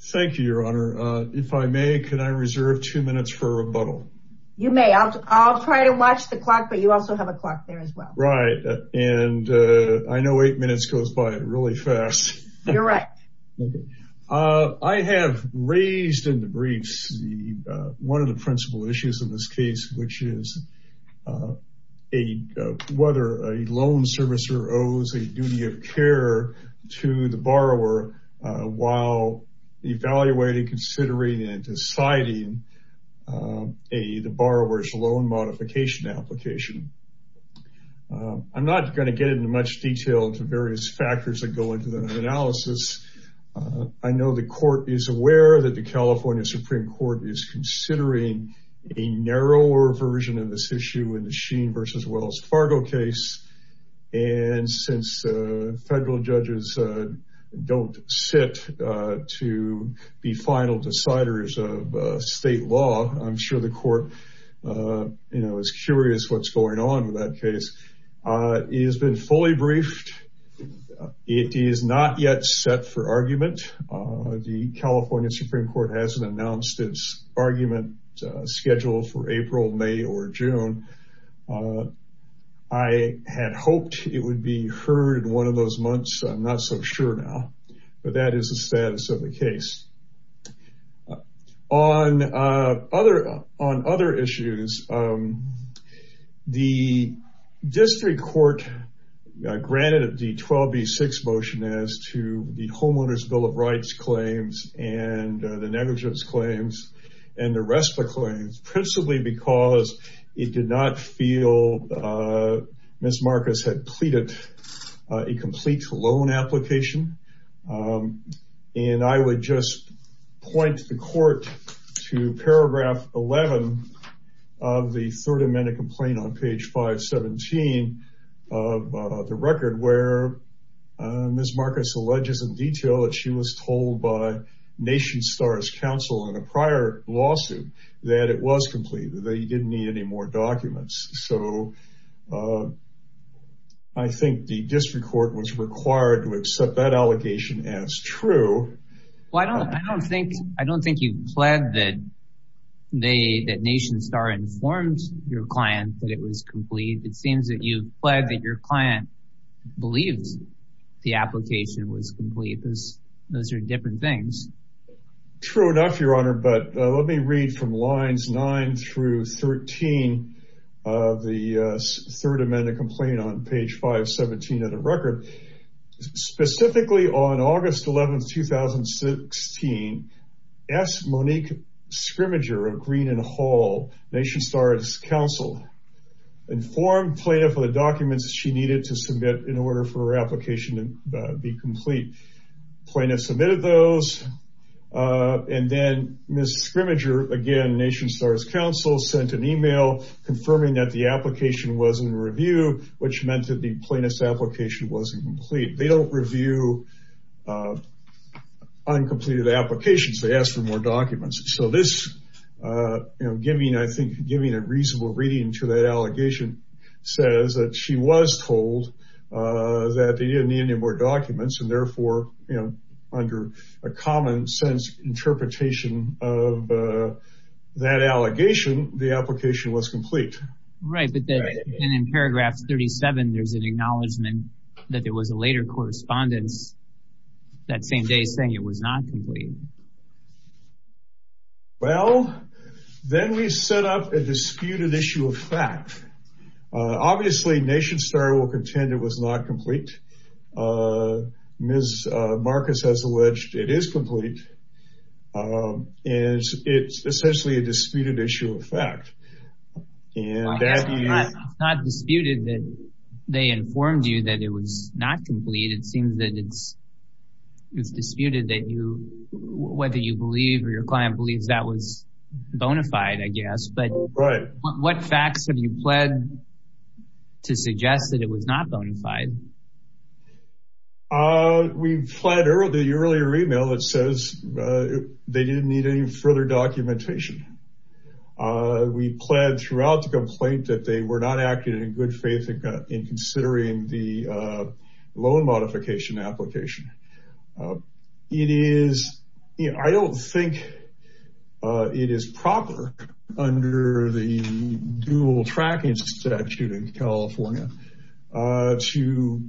Thank you, Your Honor. If I may, can I reserve two minutes for a rebuttal? You may. I'll try to watch the clock, but you also have a clock there as well. Right. And I know eight minutes goes by really fast. You're right. I have raised in the briefs one of the principal issues in this case, which is whether a loan servicer owes a duty of care to the borrower while evaluating, considering, and deciding the borrower's loan modification application. I'm not going to get into much detail into various factors that go into the analysis. I know the Court is aware that the California Supreme Court is considering a narrower version of this issue in the Sheen v. Wells Fargo case. And since federal judges don't sit to be final deciders of state law, I'm sure the Court is curious what's going on with that case. It has been fully briefed. It is not yet set for argument. The California Supreme Court hasn't announced its argument schedule for April, May, or June. I had hoped it would be heard in one of those months. I'm not so sure now. But that is the status of the case. On other issues, the District Court granted the 12B6 motion as to the Homeowner's Bill of Rights claims and the negligence claims and the RESPA claims, principally because it did not feel Ms. Marcus had pleaded a complete loan application. And I would just point the Court to paragraph 11 of the Third Amendment complaint on page 517 of the record, where Ms. Marcus alleges in detail that she was told by Nation Star's counsel in a prior lawsuit that it was complete, that you didn't need any more documents. So I think the District Court was required to accept that allegation as true. Well, I don't think you've pledged that Nation Star informed your client that it was complete. It seems that you've pledged that your client believed the application was complete. Those are different things. True enough, Your Honor, but let me read from lines 9 through 13 of the Third Amendment complaint on page 517 of the record. Specifically on August 11, 2016, S. Monique Scrimmager of Green and Hall, Nation Star's counsel, informed Plaintiff of the documents she needed to submit in order for her application to be complete. The plaintiff submitted those. And then Ms. Scrimmager, again, Nation Star's counsel, sent an email confirming that the application was in review, which meant that the plaintiff's application wasn't complete. They don't review uncompleted applications. They ask for more documents. So this, giving a reasonable reading to that allegation, says that she was told that they didn't need any more documents and therefore, under a common sense interpretation of that allegation, the application was complete. Right, but then in paragraph 37, there's an acknowledgment that there was a later correspondence that same day saying it was not complete. Well, then we set up a disputed issue of fact. Obviously, Nation Star will contend it was not complete. Ms. Marcus has alleged it is complete. And it's essentially a disputed issue of fact. It's not disputed that they informed you that it was not complete. It seems that it's disputed that you, whether you believe or your client believes that was bona fide, I guess. Right. What facts have you pled to suggest that it was not bona fide? We pled the earlier email that says they didn't need any further documentation. We pled throughout the complaint that they were not acting in good faith in considering the loan modification application. I don't think it is proper under the dual tracking statute in California to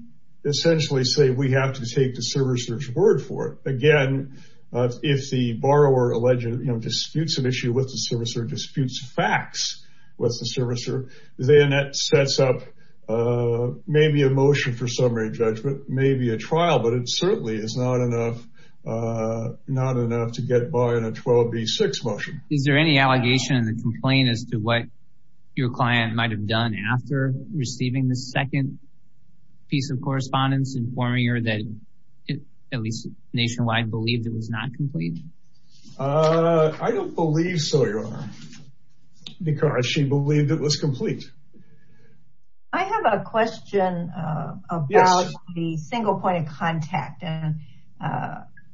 essentially say we have to take the servicer's word for it. Again, if the borrower disputes an issue with the servicer, disputes facts with the servicer, then that sets up maybe a motion for summary judgment, maybe a trial. But it certainly is not enough to get by in a 12B6 motion. Is there any allegation in the complaint as to what your client might have done after receiving the second piece of correspondence informing her that at least Nationwide believed it was not complete? I don't believe so, Your Honor, because she believed it was complete. I have a question about the single point of contact.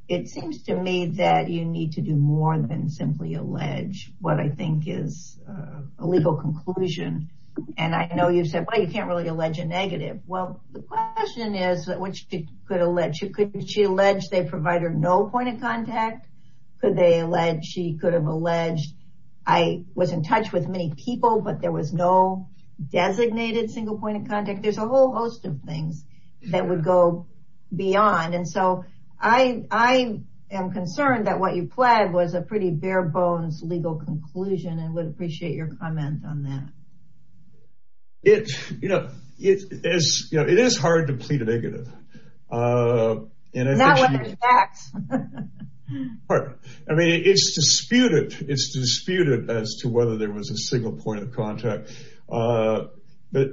It seems to me that you need to do more than simply allege what I think is a legal conclusion. And I know you've said, well, you can't really allege a negative. Well, the question is, could she allege they provided no point of contact? Could they allege she could have alleged I was in touch with many people, but there was no designated single point of contact? There's a whole host of things that would go beyond. And so I am concerned that what you pled was a pretty bare-bones legal conclusion and would appreciate your comment on that. It is hard to plead a negative. Not when there's facts. I mean, it's disputed. It's disputed as to whether there was a single point of contact. But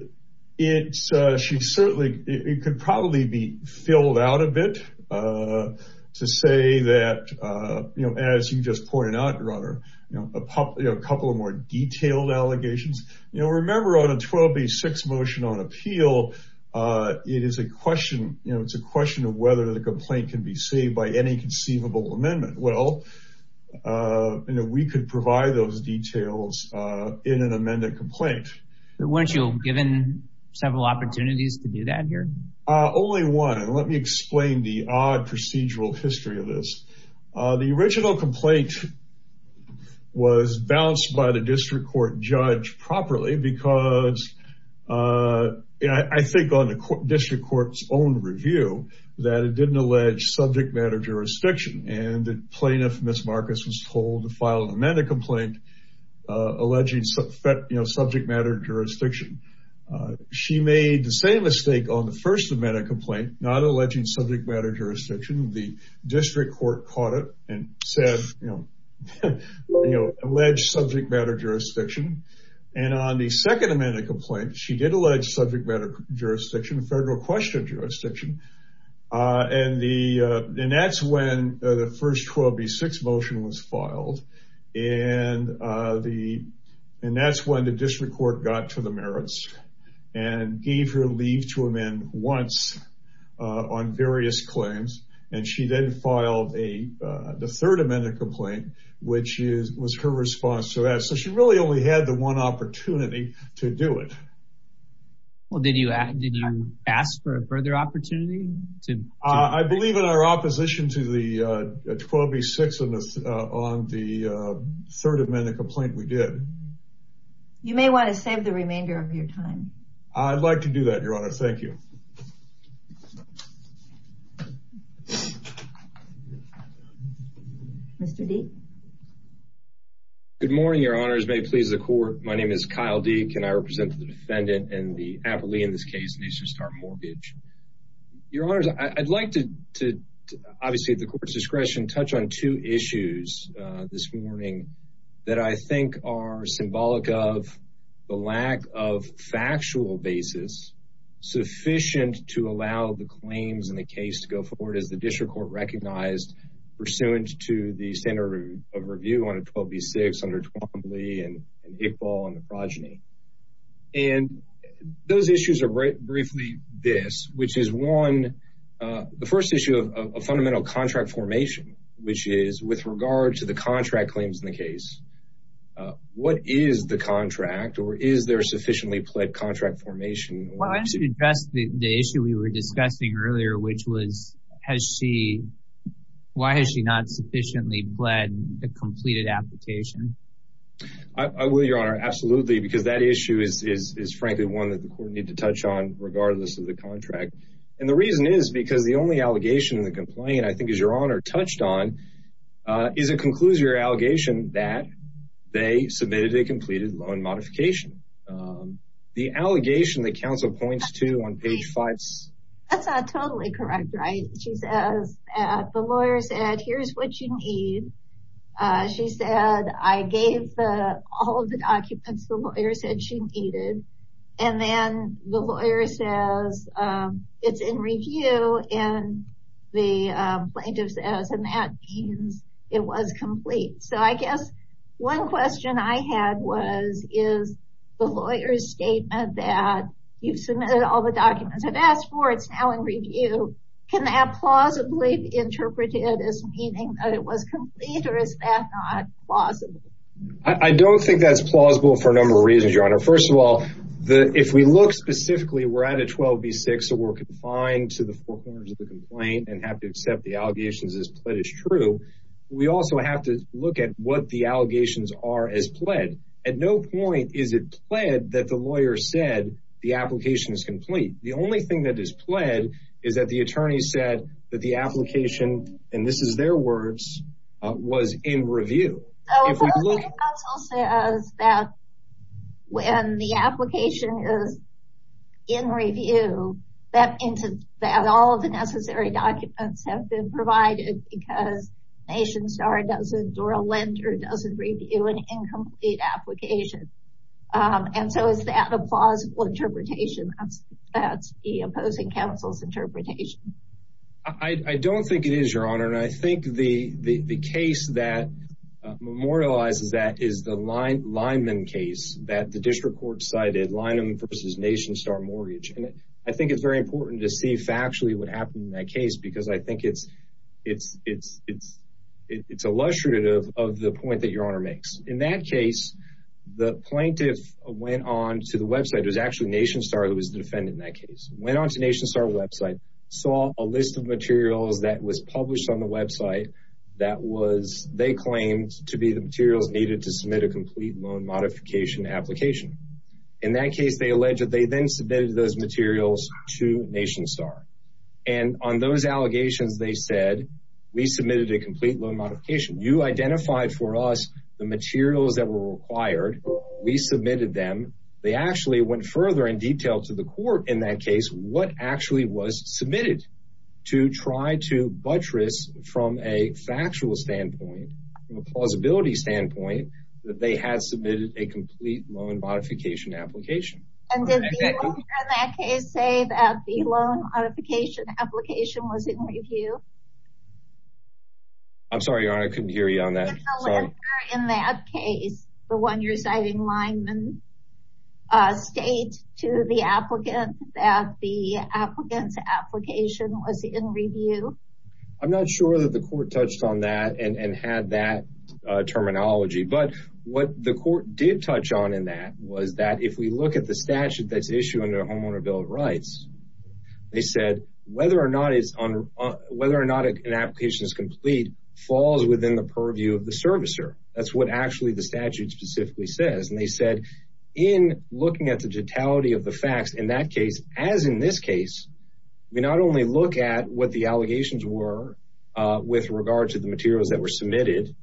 she certainly could probably be filled out a bit to say that, as you just pointed out, Your Honor, a couple of more detailed allegations. You know, remember on a 12B6 motion on appeal, it is a question, you know, it's a question of whether the complaint can be saved by any conceivable amendment. Well, you know, we could provide those details in an amended complaint. Weren't you given several opportunities to do that here? Only one. Let me explain the odd procedural history of this. The original complaint was balanced by the district court judge properly because, I think on the district court's own review, that it didn't allege subject matter jurisdiction. And the plaintiff, Ms. Marcus, was told to file an amended complaint alleging subject matter jurisdiction. She made the same mistake on the first amended complaint, not alleging subject matter jurisdiction. The district court caught it and said, you know, allege subject matter jurisdiction. And on the second amended complaint, she did allege subject matter jurisdiction, federal question jurisdiction. And that's when the first 12B6 motion was filed. And that's when the district court got to the merits and gave her leave to amend once on various claims. And she then filed the third amended complaint, which was her response to that. So she really only had the one opportunity to do it. Well, did you ask for a further opportunity? I believe in our opposition to the 12B6 on the third amended complaint we did. You may want to save the remainder of your time. I'd like to do that, Your Honor. Thank you. Mr. Deek. Good morning, Your Honors. May it please the court. My name is Kyle Deek, and I represent the defendant and the appellee in this case. And he's just our mortgage. Your Honors, I'd like to obviously at the court's discretion touch on two issues this morning that I think are symbolic of the lack of factual basis sufficient to allow the claims in the case to go forward as the district court recognized pursuant to the standard of review on a 12B6 under Twombly and Iqbal on the progeny. And those issues are briefly this, which is one, the first issue of a fundamental contract formation, which is with regard to the contract claims in the case, what is the contract or is there sufficiently pled contract formation? Well, I should address the issue we were discussing earlier, which was, has she, why has she not sufficiently pled the completed application? I will, Your Honor, absolutely, because that issue is frankly one that the court need to touch on regardless of the contract. And the reason is because the only allegation in the complaint I think is Your Honor touched on is it concludes your allegation that they submitted a completed loan modification. The allegation that counsel points to on page five. That's not totally correct, right? She says the lawyer said, here's what you need. She said, I gave all of the documents the lawyer said she needed. And then the lawyer says it's in review and the plaintiff says, and that means it was complete. So I guess one question I had was, is the lawyer's statement that you've submitted all the documents I've asked for, it's now in review. Can that plausibly interpreted as meaning that it was complete or is that not possible? I don't think that's plausible for a number of reasons, Your Honor. First of all, if we look specifically, we're at a 12 v. 6, so we're confined to the four corners of the complaint and have to accept the allegations as pled as true. So we also have to look at what the allegations are as pled. At no point is it pled that the lawyer said the application is complete. The only thing that is pled is that the attorney said that the application, and this is their words, was in review. So opposing counsel says that when the application is in review, that all of the necessary documents have been provided because NationStar doesn't or a lender doesn't review an incomplete application. And so is that a plausible interpretation? That's the opposing counsel's interpretation. I don't think it is, Your Honor, and I think the case that memorializes that is the Lineman case that the district court cited, Lineman v. NationStar Mortgage. And I think it's very important to see factually what happened in that case because I think it's illustrative of the point that Your Honor makes. In that case, the plaintiff went on to the website. It was actually NationStar that was the defendant in that case. Went on to NationStar website, saw a list of materials that was published on the website that they claimed to be the materials needed to submit a complete loan modification application. In that case, they alleged that they then submitted those materials to NationStar. And on those allegations, they said, we submitted a complete loan modification. You identified for us the materials that were required. We submitted them. They actually went further and detailed to the court in that case what actually was submitted to try to buttress from a factual standpoint, from a plausibility standpoint, that they had submitted a complete loan modification application. And did the owner in that case say that the loan modification application was in review? I'm sorry, Your Honor. I couldn't hear you on that. In that case, the one you're citing, Lineman, state to the applicant that the applicant's application was in review? I'm not sure that the court touched on that and had that terminology. But what the court did touch on in that was that if we look at the statute that's issued under the Homeowner Bill of Rights, they said whether or not an application is complete falls within the purview of the servicer. That's what actually the statute specifically says. And they said in looking at the totality of the facts in that case, as in this case, we not only look at what the allegations were with regard to the materials that were submitted,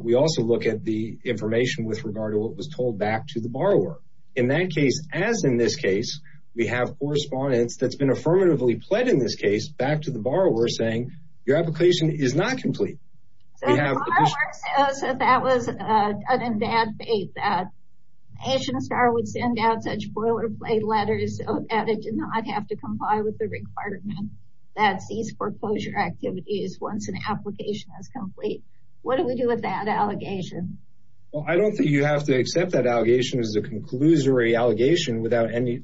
we also look at the information with regard to what was told back to the borrower. In that case, as in this case, we have correspondence that's been affirmatively pled in this case back to the borrower saying your application is not complete. So the borrower says that that was in bad faith, that Asian Star would send out such boilerplate letters so that it did not have to comply with the requirement that cease foreclosure activities once an application is complete. What do we do with that allegation? Well, I don't think you have to accept that allegation as a conclusory allegation without any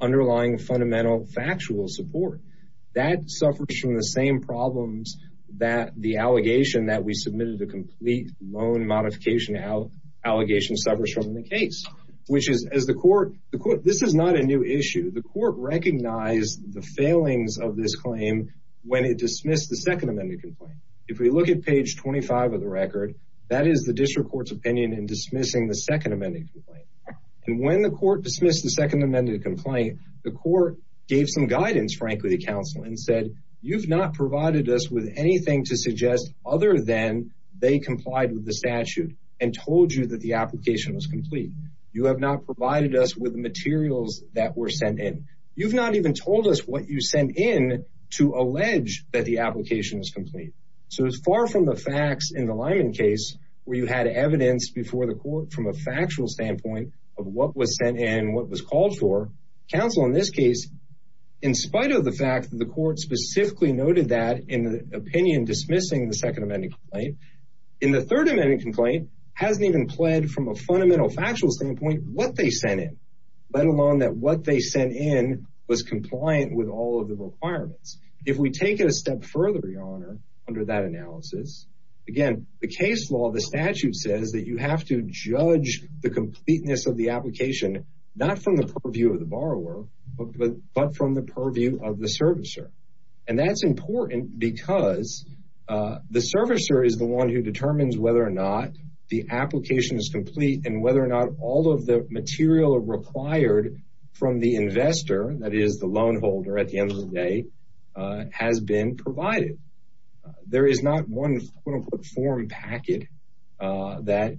underlying fundamental factual support. That suffers from the same problems that the allegation that we submitted a complete loan modification out allegation suffers from the case, which is as the court. This is not a new issue. The court recognized the failings of this claim when it dismissed the Second Amendment complaint. If we look at page 25 of the record, that is the district court's opinion in dismissing the Second Amendment. And when the court dismissed the Second Amendment complaint, the court gave some guidance. Frankly, the council and said, you've not provided us with anything to suggest other than they complied with the statute and told you that the application was complete. You have not provided us with the materials that were sent in. You've not even told us what you sent in to allege that the application is complete. So as far from the facts in the Lyman case where you had evidence before the court from a factual standpoint of what was sent in, what was called for council in this case, in spite of the fact that the court specifically noted that in the opinion dismissing the Second Amendment. In the Third Amendment complaint hasn't even pled from a fundamental factual standpoint what they sent in, let alone that what they sent in was compliant with all of the requirements. If we take it a step further, Your Honor, under that analysis, again, the case law, the statute says that you have to judge the completeness of the application, not from the purview of the borrower, but from the purview of the servicer. And that's important because the servicer is the one who determines whether or not the application is complete and whether or not all of the material required from the investor, that is the loan holder at the end of the day, has been provided. There is not one form packet that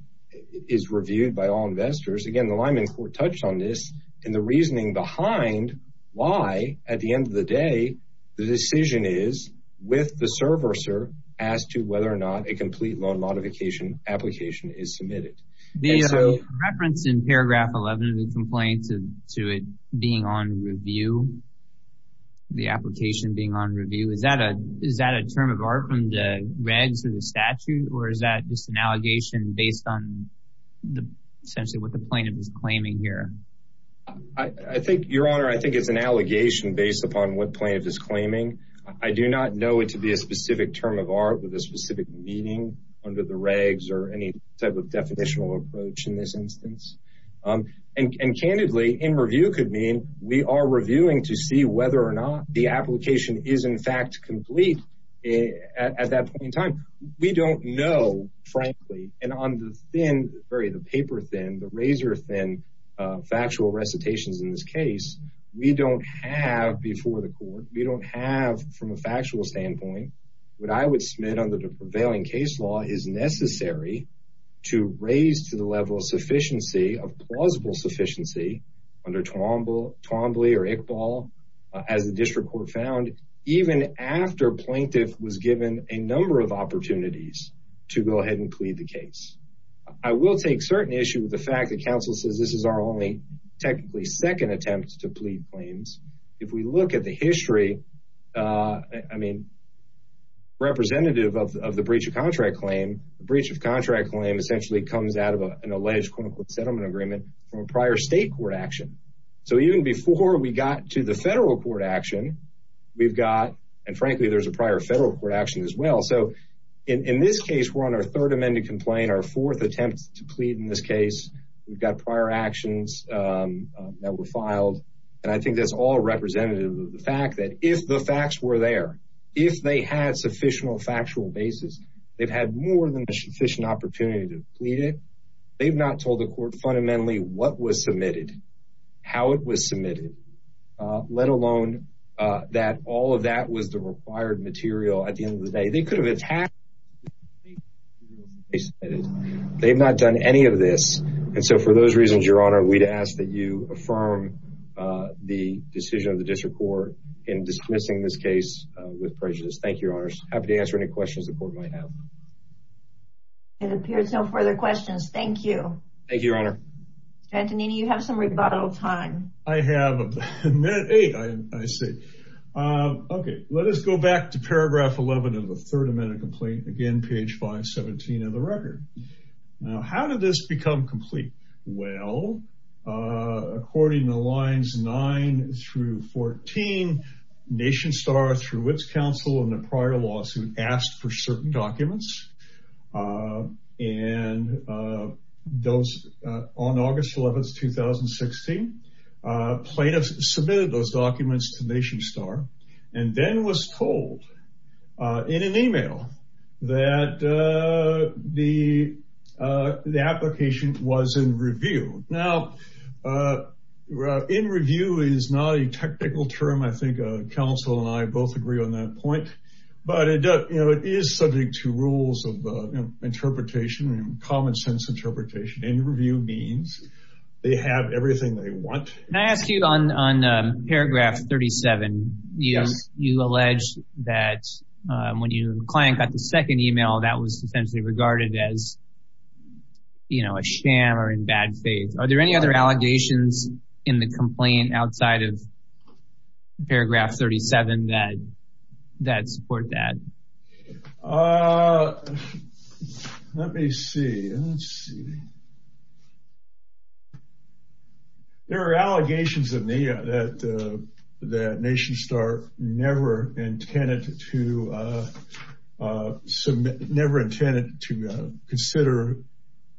is reviewed by all investors. Again, the Lyman court touched on this and the reasoning behind why at the end of the day the decision is with the servicer as to whether or not a complete loan modification application is submitted. The reference in paragraph 11 of the complaint to it being on review, the application being on review, is that a term of art from the regs of the statute or is that just an allegation based on essentially what the plaintiff is claiming here? I think, Your Honor, I think it's an allegation based upon what plaintiff is claiming. I do not know it to be a specific term of art with a specific meaning under the regs or any type of definitional approach in this instance. And candidly, in review could mean we are reviewing to see whether or not the application is in fact complete at that point in time. We don't know, frankly, and on the paper thin, the razor thin factual recitations in this case, we don't have before the court, we don't have from a factual standpoint what I would submit under the prevailing case law is necessary to raise to the level of sufficiency of plausible sufficiency under Twombly or Iqbal as the district court found even after plaintiff was given a number of opportunities to go ahead and plead the case. I will take certain issue with the fact that counsel says this is our only technically second attempt to plead claims. If we look at the history, I mean, representative of the breach of contract claim, breach of contract claim essentially comes out of an alleged settlement agreement from a prior state court action. So even before we got to the federal court action, we've got, and frankly, there's a prior federal court action as well. So in this case, we're on our third amended complaint, our fourth attempt to plead in this case. We've got prior actions that were filed. And I think that's all representative of the fact that if the facts were there, if they had sufficient factual basis, they've had more than a sufficient opportunity to plead it. They've not told the court fundamentally what was submitted, how it was submitted, let alone that all of that was the required material at the end of the day, they could have attacked. They've not done any of this. And so for those reasons, your honor, we'd ask that you affirm the decision of the district court in dismissing this case with prejudice. Thank you, your honors. Happy to answer any questions the court might have. It appears no further questions. Thank you. Thank you, your honor. Antonini, you have some rebuttal time. I have a minute. I say, okay, let us go back to paragraph 11 of the third amendment complaint. Again, page 517 of the record. Now, how did this become complete? Well, according to lines nine through 14, NationStar through its counsel in the prior lawsuit asked for certain documents. And those on August 11th, 2016, plaintiffs submitted those documents to NationStar and then was told in an email that the application was in review. Now, in review is not a technical term. I think counsel and I both agree on that point. But it is subject to rules of interpretation and common sense interpretation. In review means they have everything they want. Can I ask you on paragraph 37, you alleged that when your client got the second email that was essentially regarded as, you know, a sham or in bad faith. Are there any other allegations in the complaint outside of paragraph 37 that support that? Uh, let me see. There are allegations that NationStar never intended to consider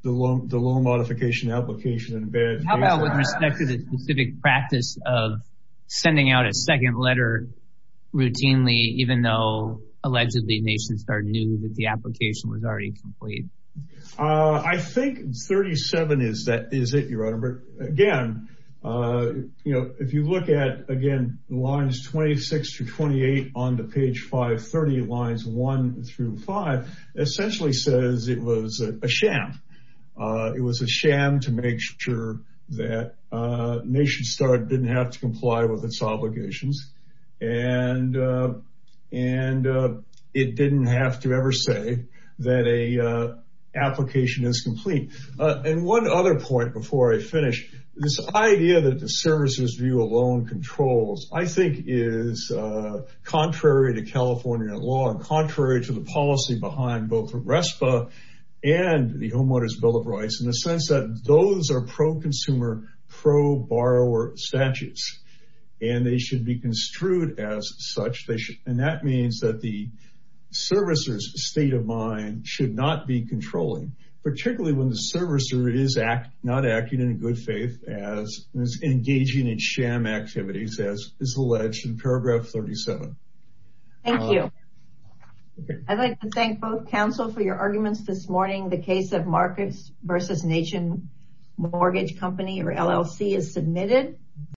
the loan modification application in bad faith. With respect to the specific practice of sending out a second letter routinely, even though allegedly NationStar knew that the application was already complete. I think 37 is that is it your honor. But again, you know, if you look at again lines 26 to 28 on the page 530 lines one through five essentially says it was a sham. It was a sham to make sure that NationStar didn't have to comply with its obligations and and it didn't have to ever say that a application is complete. And one other point before I finish this idea that the services view alone controls, I think is contrary to California law and contrary to the policy behind both RESPA and the homeowners bill of rights in the sense that those are pro consumer pro borrower statutes. And they should be construed as such. And that means that the servicers state of mind should not be controlling, particularly when the servicer is not acting in good faith as engaging in sham activities as is alleged in paragraph 37. Thank you. I'd like to thank both counsel for your arguments this morning. The case of Marcus versus Nation Mortgage Company or LLC is submitted.